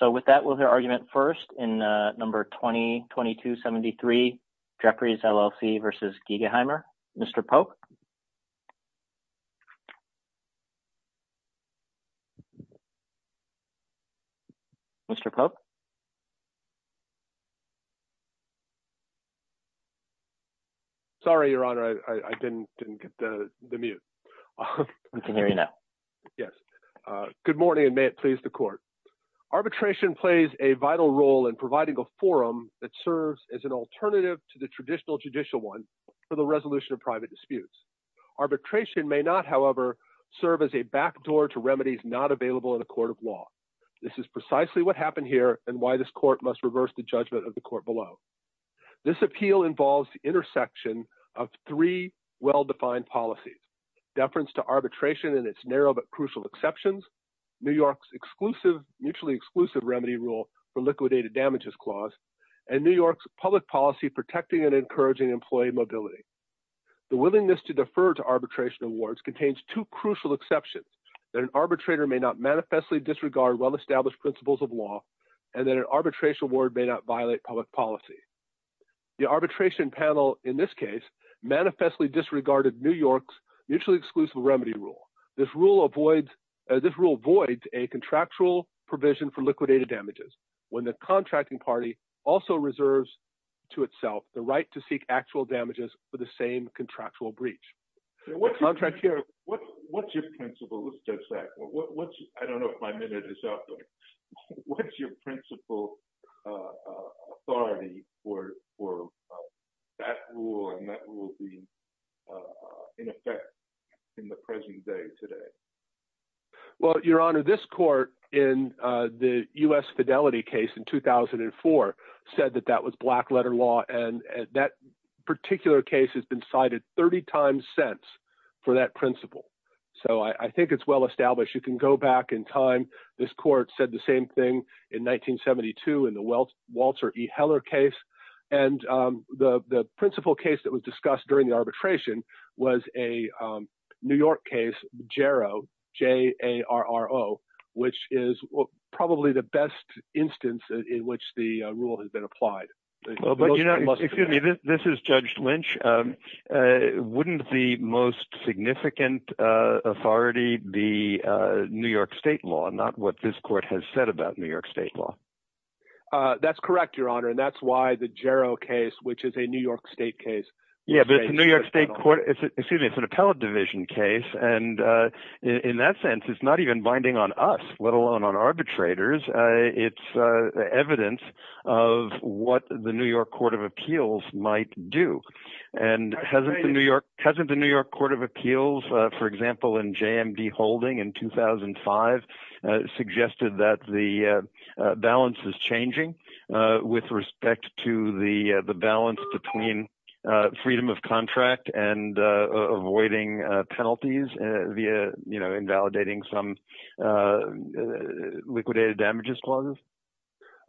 So with that, we'll hear argument first in number 20-2273, Jefferies LLC v. Gegeheimer. Mr. Pope. Mr. Pope. Sorry, Your Honor, I didn't get the mute. We can hear you now. Yes. Good morning, and may it please the court. Arbitration plays a vital role in providing a forum that serves as an alternative to the traditional judicial one for the resolution of private disputes. Arbitration may not, however, serve as a backdoor to remedies not available in a court of law. This is precisely what happened here and why this court must reverse the judgment of the court below. This appeal involves the intersection of three well-defined policies, deference to arbitration and its narrow but crucial exceptions, New York's mutually exclusive remedy rule for liquidated damages clause, and New York's public policy protecting and encouraging employee mobility. The willingness to defer to arbitration awards contains two crucial exceptions, that an arbitrator may not manifestly disregard well-established principles of law, and that an arbitration award may not violate public policy. The arbitration panel in this case manifestly disregarded New York's mutually exclusive remedy rule. This rule avoids a contractual provision for liquidated damages when the contracting party also reserves to itself the right to seek actual damages for the same contractual breach. The contract here... What's your principle? Let's touch that. I don't know if my minute is up. What's your principle authority for that rule and that will be in effect in the present day today? Well, your honor, this court in the US Fidelity case in 2004 said that that was black letter law and that particular case has been cited 30 times since for that principle. So I think it's well-established. You can go back in time. This court said the same thing in 1972 in the Walter E. Heller case. And the principle case that was discussed during the arbitration was a New York case, JARRO, J-A-R-R-O, which is probably the best instance in which the rule has been applied. But you know, excuse me, this is Judge Lynch. Wouldn't the most significant authority be New York state law, not what this court has said about New York state law? That's correct, your honor. And that's why the JARRO case, which is a New York state case. Yeah, but it's a New York state court. Excuse me, it's an appellate division case. And in that sense, it's not even binding on us, let alone on arbitrators. It's evidence of what the New York Court of Appeals might do. And hasn't the New York Court of Appeals, for example, in J.M.D. Holding in 2005, suggested that the balance is changing with respect to the balance between freedom of contract and avoiding penalties via, you know, invalidating some liquidated damages clauses?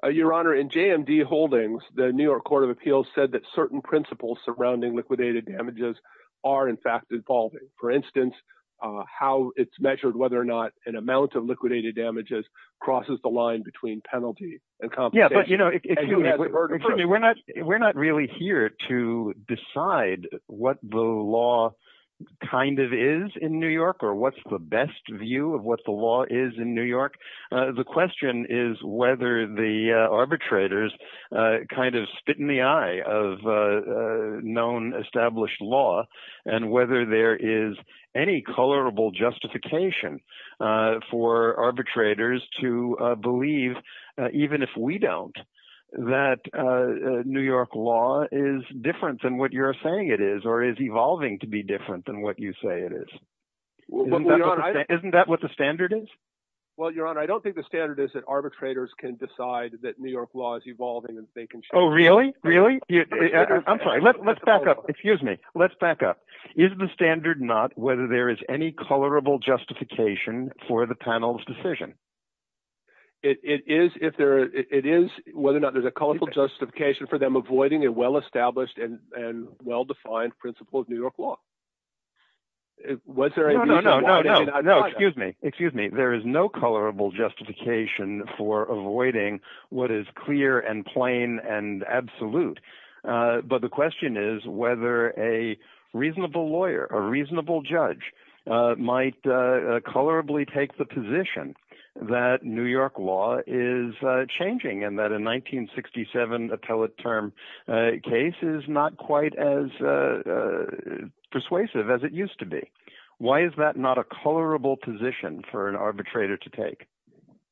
Your honor, in J.M.D. Holdings, the New York Court of Appeals said that certain principles surrounding liquidated damages are in fact evolving. For instance, how it's measured, whether or not an amount of liquidated damages crosses the line between penalty and compensation. As you had heard before. We're not really here to decide what the law kind of is in New York, or what's the best view of what the law is in New York. The question is whether the arbitrators kind of spit in the eye of known established law, and whether there is any colorable justification for arbitrators to believe, even if we don't, that New York law is different than what you're saying it is, or is evolving to be different than what you say it is. Isn't that what the standard is? Well, your honor, I don't think the standard is that arbitrators can decide that New York law is evolving and they can- Oh, really? Really? I'm sorry, let's back up. Excuse me, let's back up. Is the standard not whether there is any colorable justification for the panel's decision? It is whether or not there's a colorful justification for them avoiding a well-established and well-defined principle of New York law. Was there a reason why- No, no, no, no, no, no, excuse me, excuse me. There is no colorable justification for avoiding what is clear and plain and absolute. But the question is whether a reasonable lawyer, a reasonable judge, might colorably take the position that New York law is changing, and that a 1967 appellate term case is not quite as persuasive as it used to be. Why is that not a colorable position for an arbitrator to take?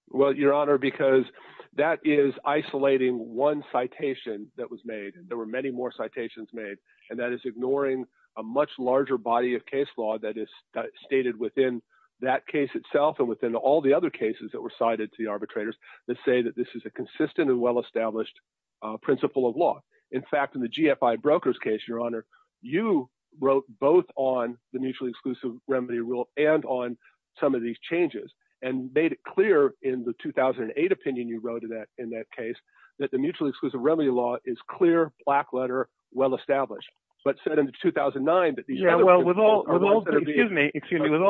Well, your honor, because that is isolating one citation that was made, and there were many more citations made, and that is ignoring a much larger body of case law that is stated within that case itself and within all the other cases that were cited to the arbitrators that say that this is a consistent and well-established principle of law. In fact, in the GFI Brokers case, your honor, you wrote both on the Mutually Exclusive Remedy Rule and on some of these changes, and made it clear in the 2008 opinion you wrote in that case that the Mutually Exclusive Remedy Law is clear, black-letter, well-established, but said in 2009 that these other- Yeah, well, with all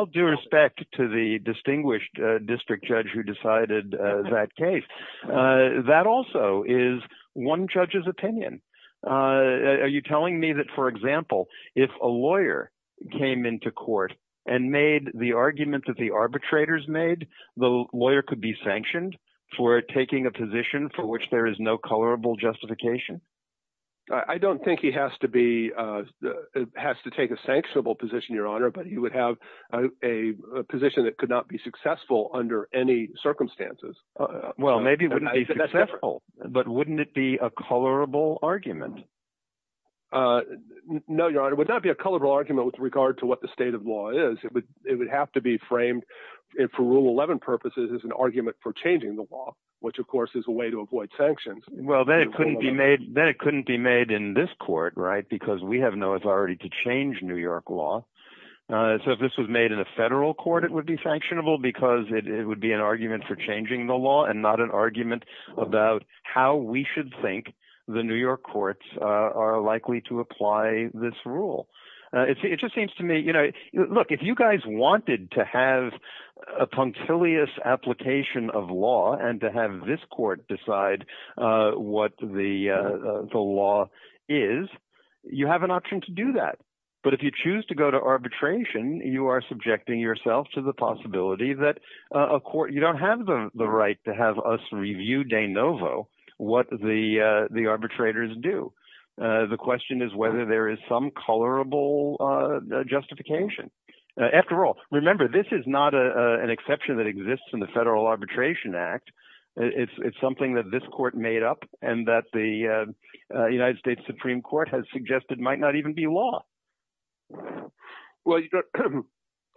due respect to the distinguished district judge who decided that case, that also is one judge's opinion. Are you telling me that, for example, if a lawyer came into court and made the argument that the arbitrators made, the lawyer could be sanctioned for taking a position for which there is no colorable justification? I don't think he has to be, has to take a sanctionable position, your honor, but he would have a position that could not be successful under any circumstances. Well, maybe it wouldn't be successful, but wouldn't it be a colorable argument? No, your honor, it would not be a colorable argument with regard to what the state of law is. It would have to be framed, for Rule 11 purposes, as an argument for changing the law, which, of course, is a way to avoid sanctions. Well, then it couldn't be made in this court, right, because we have no authority to change New York law. So if this was made in a federal court, it would be sanctionable because it would be an argument for changing the law and not an argument about how we should think the New York courts are likely to apply this rule. It just seems to me, look, if you guys wanted to have a punctilious application of law and to have this court decide what the law is, you have an option to do that. But if you choose to go to arbitration, you are subjecting yourself to the possibility that you don't have the right to have us review de novo what the arbitrators do. The question is whether there is some colorable justification. After all, remember, this is not an exception that exists in the Federal Arbitration Act. It's something that this court made up and that the United States Supreme Court has suggested might not even be law. Well,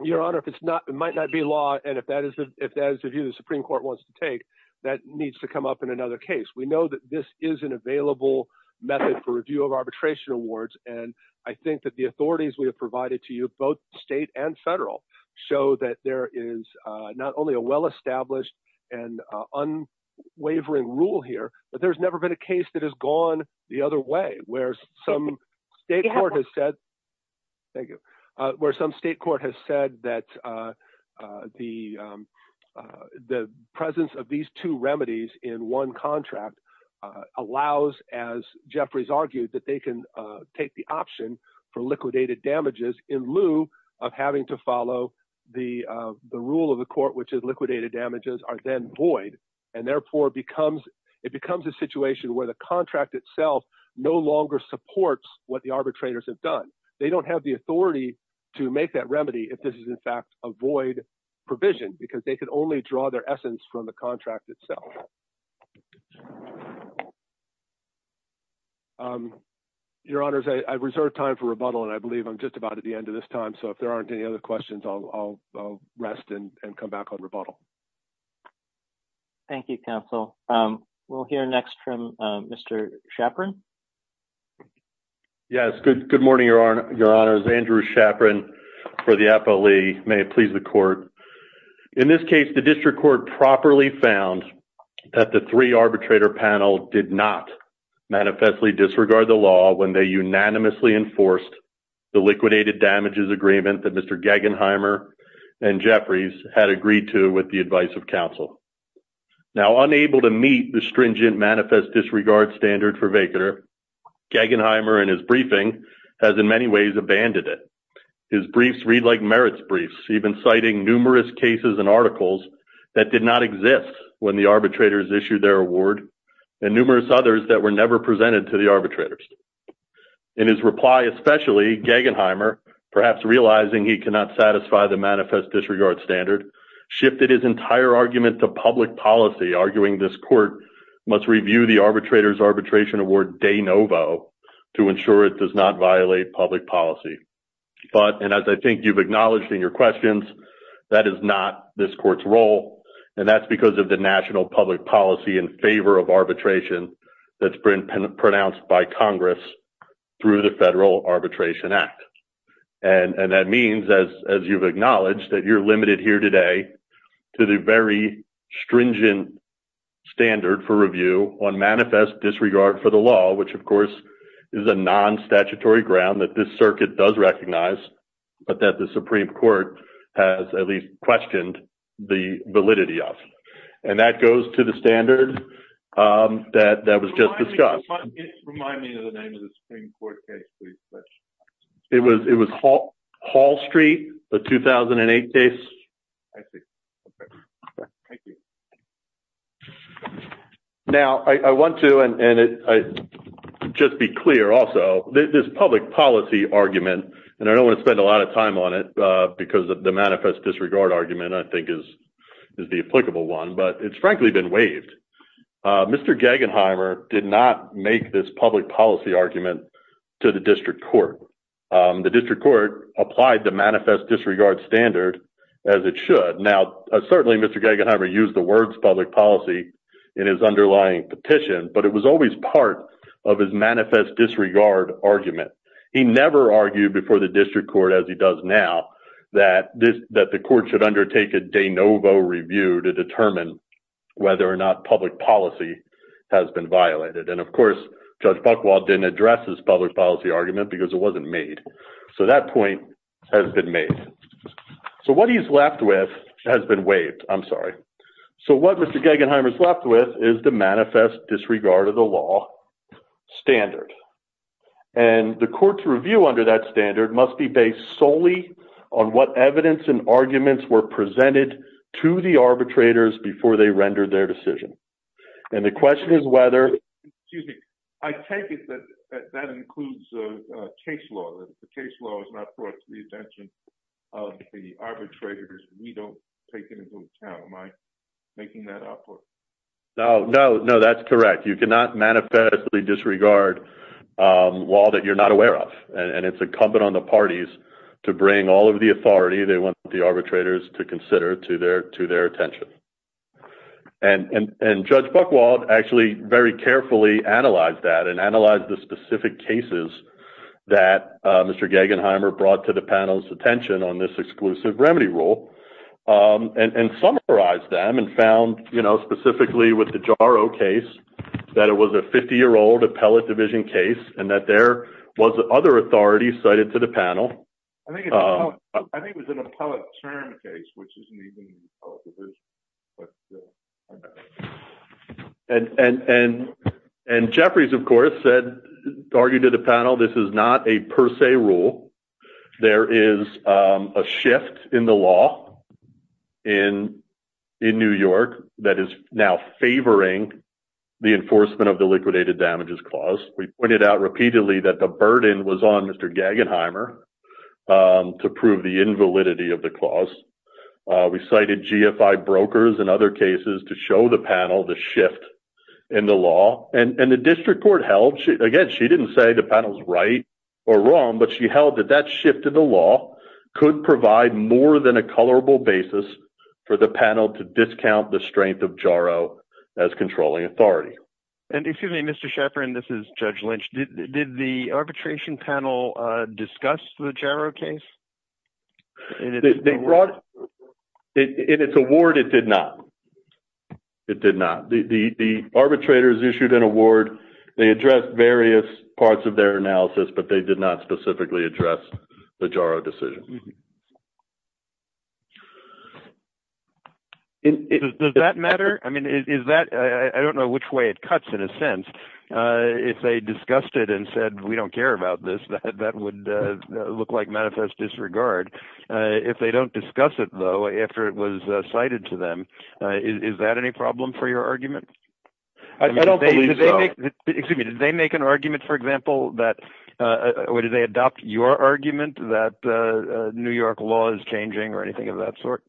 Your Honor, it might not be law, and if that is the view the Supreme Court wants to take, that needs to come up in another case. We know that this is an available method for review of arbitration awards, and I think that the authorities we have provided to you, both state and federal, show that there is not only a well-established and unwavering rule here, but there's never been a case that has gone the other way, where some state court has said, thank you, where some state court has said that the presence of these two remedies in one contract allows, as Jeffrey's argued, that they can take the option for liquidated damages in lieu of having to follow the rule of the court, which is liquidated damages, are then void, and therefore, it becomes a situation where the contract itself no longer supports what the arbitrators have done. They don't have the authority to make that remedy if this is, in fact, a void provision, because they could only draw their essence from the contract itself. Your Honors, I reserve time for rebuttal, and I believe I'm just about at the end of this time, so if there aren't any other questions, I'll rest and come back on rebuttal. Thank you, Counsel. We'll hear next from Mr. Shapron. Yes, good morning, Your Honors. Andrew Shapron for the Apo Lee. May it please the Court. In this case, the district court properly found that the three arbitrator panel did not manifestly disregard the law when they unanimously enforced the liquidated damages agreement that Mr. Gagenheimer and Jeffries had agreed to with the advice of counsel. Now, unable to meet the stringent manifest disregard standard for vacaner, Gagenheimer, in his briefing, has, in many ways, abandoned it. His briefs read like merits briefs, even citing numerous cases and articles that did not exist when the arbitrators issued their award, and numerous others that were never presented to the arbitrators. In his reply, especially, Gagenheimer, perhaps realizing he cannot satisfy the manifest disregard standard, shifted his entire argument to public policy, arguing this court must review the arbitrator's arbitration award de novo to ensure it does not violate public policy. But, and as I think you've acknowledged in your questions, that is not this court's role, and that's because of the national public policy in favor of arbitration that's pronounced by Congress through the Federal Arbitration Act. And that means, as you've acknowledged, that you're limited here today to the very stringent standard for review on manifest disregard for the law, which, of course, is a non-statutory ground that this circuit does recognize, but that the Supreme Court has, at least, questioned the validity of. And that goes to the standard that was just discussed. Remind me of the name of the Supreme Court case, please. It was Hall Street, the 2008 case. I see, okay, thank you. Now, I want to, and just be clear, also, this public policy argument, and I don't wanna spend a lot of time on it because of the manifest disregard argument, and I think is the applicable one, but it's frankly been waived. Mr. Gagenheimer did not make this public policy argument to the district court. The district court applied the manifest disregard standard as it should. Now, certainly, Mr. Gagenheimer used the words public policy in his underlying petition, but it was always part of his manifest disregard argument. He never argued before the district court, as he does now, that the court should undertake a de novo review to determine whether or not public policy has been violated. And of course, Judge Buchwald didn't address this public policy argument because it wasn't made. So that point has been made. So what he's left with has been waived, I'm sorry. So what Mr. Gagenheimer's left with is the manifest disregard of the law standard. And the court's review under that standard must be based solely on what evidence and arguments were presented to the arbitrators before they rendered their decision. And the question is whether, excuse me, I take it that that includes case law, that if the case law is not brought to the attention of the arbitrators, we don't take it into account. Am I making that up or? No, no, no, that's correct. You cannot manifestly disregard law that you're not aware of. And it's incumbent on the parties to bring all of the authority they want the arbitrators to consider to their attention. And Judge Buchwald actually very carefully analyzed that and analyzed the specific cases that Mr. Gagenheimer brought to the panel's attention on this exclusive remedy rule and summarized them and found specifically with the Jaro case that it was a 50-year-old appellate division case and that there was other authority cited to the panel. I think it was an appellate term case, which isn't even an appellate division, but still, I don't know. And Jeffries, of course, argued to the panel, this is not a per se rule. There is a shift in the law in New York that is now favoring the enforcement of the liquidated damages clause. We pointed out repeatedly that the burden was on Mr. Gagenheimer to prove the invalidity of the clause. We cited GFI brokers and other cases to show the panel the shift in the law. And the district court held, again, she didn't say the panel's right or wrong, but she held that that shift in the law could provide more than a colorable basis for the panel to discount the strength of Jaro as controlling authority. And excuse me, Mr. Shepherd, and this is Judge Lynch. Did the arbitration panel discuss the Jaro case? In its award, it did not. It did not. The arbitrators issued an award. They addressed various parts of their analysis, but they did not specifically address the Jaro decision. Does that matter? I mean, is that, I don't know which way it cuts in a sense. If they discussed it and said, we don't care about this, that would look like manifest disregard. If they don't discuss it, though, after it was cited to them, is that any problem for your argument? I don't believe so. Excuse me, did they make an argument, for example, that, or did they adopt your argument that New York law is changing or anything of that sort?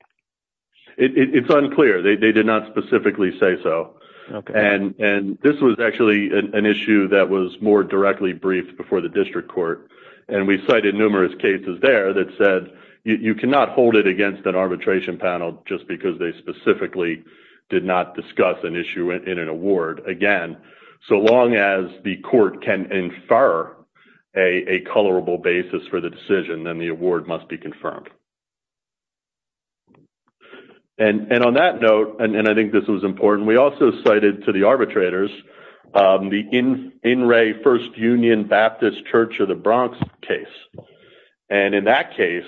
It's unclear. They did not specifically say so. And this was actually an issue that was more directly briefed before the district court. And we cited numerous cases there that said, you cannot hold it against an arbitration panel just because they specifically did not discuss an issue in an award. Again, so long as the court can infer a colorable basis for the decision, then the award must be confirmed. And on that note, and I think this was important, we also cited to the arbitrators the In Re First Union Baptist Church of the Bronx case. And in that case,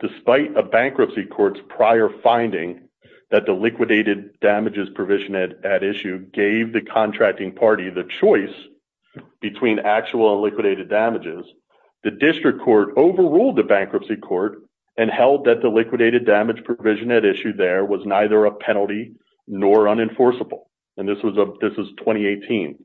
despite a bankruptcy court's prior finding that the liquidated damages provision at issue gave the contracting party the choice between actual and liquidated damages, the district court overruled the bankruptcy court and held that the liquidated damage provision at issue there was neither a penalty nor unenforceable. And this was 2018.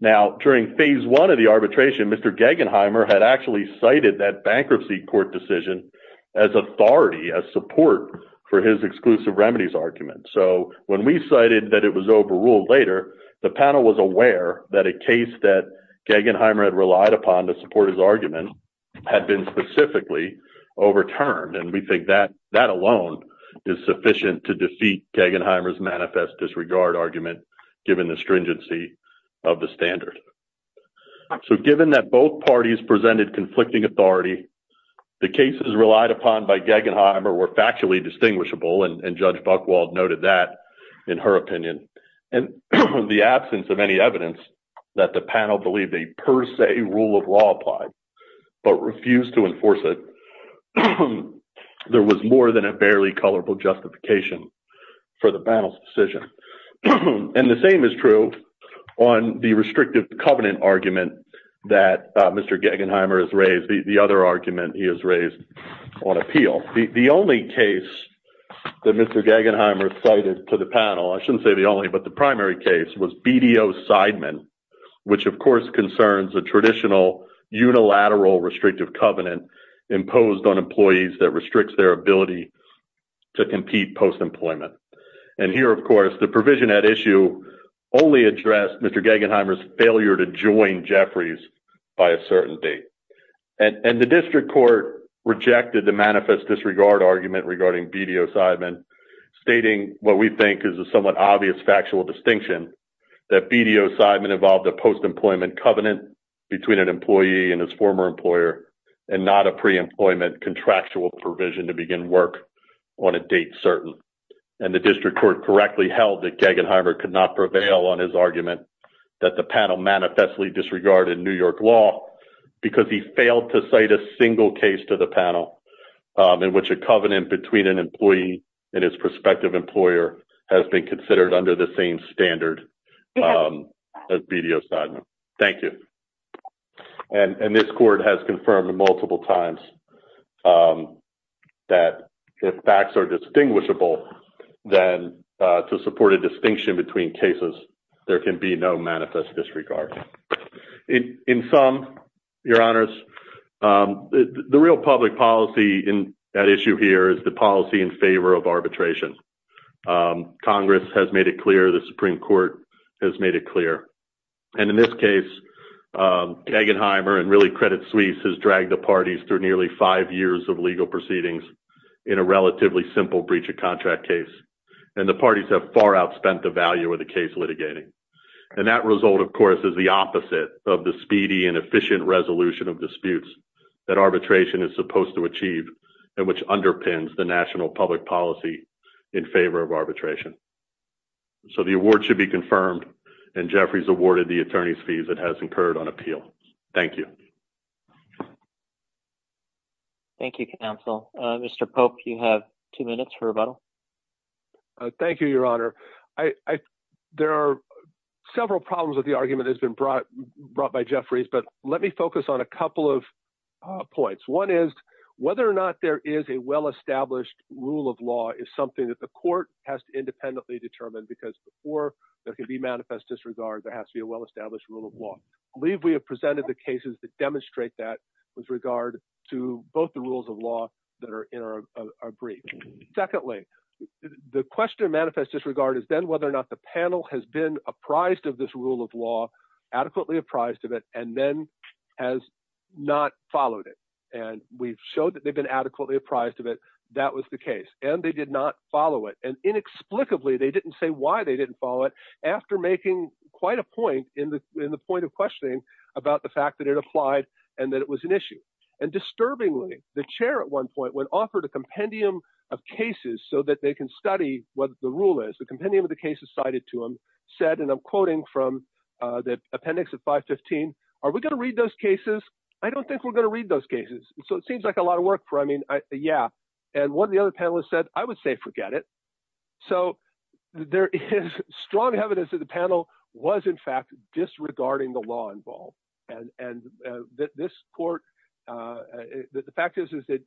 Now, during phase one of the arbitration, Mr. Gagenheimer had actually cited that bankruptcy court decision as authority, as support for his exclusive remedies argument. So when we cited that it was overruled later, the panel was aware that a case that Gagenheimer had relied upon to support his argument had been specifically overturned. And we think that that alone is sufficient to defeat Gagenheimer's manifest disregard argument given the stringency of the standard. So given that both parties presented conflicting authority, the cases relied upon by Gagenheimer were factually distinguishable, and Judge Buchwald noted that in her opinion. And in the absence of any evidence that the panel believed a per se rule of law applied, but refused to enforce it, there was more than a barely colorful justification for the panel's decision. And the same is true on the restrictive covenant argument that Mr. Gagenheimer has raised, the other argument he has raised on appeal. The only case that Mr. Gagenheimer cited to the panel, I shouldn't say the only, but the primary case was BDO Sideman, which of course concerns a traditional unilateral restrictive covenant imposed on employees that restricts their ability to compete post-employment. And here, of course, the provision at issue only addressed Mr. Gagenheimer's failure to join Jeffries by a certain date. And the district court rejected the manifest disregard argument regarding BDO Sideman, stating what we think is a somewhat obvious factual distinction, that BDO Sideman involved a post-employment covenant between an employee and his former employer, and not a pre-employment contractual provision to begin work on a date certain. And the district court correctly held that Gagenheimer could not prevail on his argument that the panel manifestly disregarded New York law, because he failed to cite a single case to the panel in which a covenant between an employee and his prospective employer has been considered under the same standard as BDO Sideman. Thank you. And this court has confirmed multiple times that if facts are distinguishable, then to support a distinction between cases, there can be no manifest disregard. In sum, your honors, the real public policy in that issue here is the policy in favor of arbitration. Congress has made it clear, the Supreme Court has made it clear. And in this case, Gagenheimer and really Credit Suisse has dragged the parties through nearly five years of legal proceedings in a relatively simple breach of contract case. And the parties have far outspent the value of the case litigating. And that result, of course, is the opposite of the speedy and efficient resolution of disputes that arbitration is supposed to achieve and which underpins the national public policy in favor of arbitration. So the award should be confirmed and Jeffrey's awarded the attorney's fees that has incurred on appeal. Thank you. Thank you, counsel. Mr. Pope, you have two minutes for rebuttal. Thank you, your honor. I, there are several problems with the argument that's been brought by Jeffrey's, but let me focus on a couple of points. One is whether or not there is a well-established rule of law is something that the court has to independently determine because before there can be manifest disregard, there has to be a well-established rule of law. I believe we have presented the cases that demonstrate that with regard to both the rules of law that are in our brief. Secondly, the question of manifest disregard is then whether or not the panel has been apprised of this rule of law, adequately apprised of it, and then has not followed it. And we've showed that they've been adequately apprised of it that was the case and they did not follow it. And inexplicably, they didn't say why they didn't follow it after making quite a point in the point of questioning about the fact that it applied and that it was an issue. And disturbingly, the chair at one point when offered a compendium of cases so that they can study what the rule is, the compendium of the cases cited to him said, and I'm quoting from the appendix of 515, are we gonna read those cases? I don't think we're gonna read those cases. So it seems like a lot of work for, I mean, yeah. And what the other panelists said, I would say forget it. So there is strong evidence that the panel was in fact disregarding the law involved. And this court, the fact is that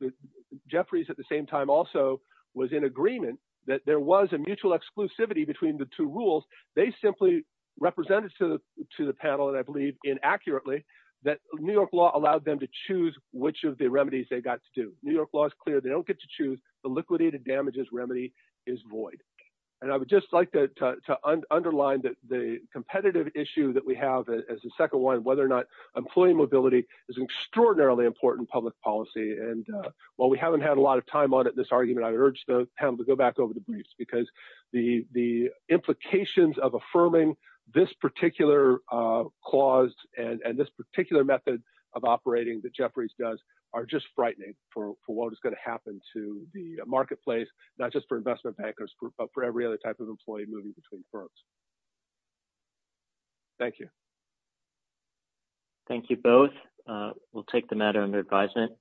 Jeffries at the same time also was in agreement that there was a mutual exclusivity between the two rules. They simply represented to the panel and I believe inaccurately that New York law allowed them to choose which of the remedies they got to do. New York law is clear, they don't get to choose the liquidated damages remedy is void. And I would just like to underline that the competitive issue that we have as a second one, whether or not employee mobility is extraordinarily important public policy. And while we haven't had a lot of time on it, this argument, I urge the panel to go back over the briefs because the implications of affirming this particular clause and this particular method of operating that Jeffries does are just frightening for what is gonna happen to the marketplace, not just for investment bankers, but for every other type of employee moving between firms. Thank you. Thank you both. We'll take the matter under advisement.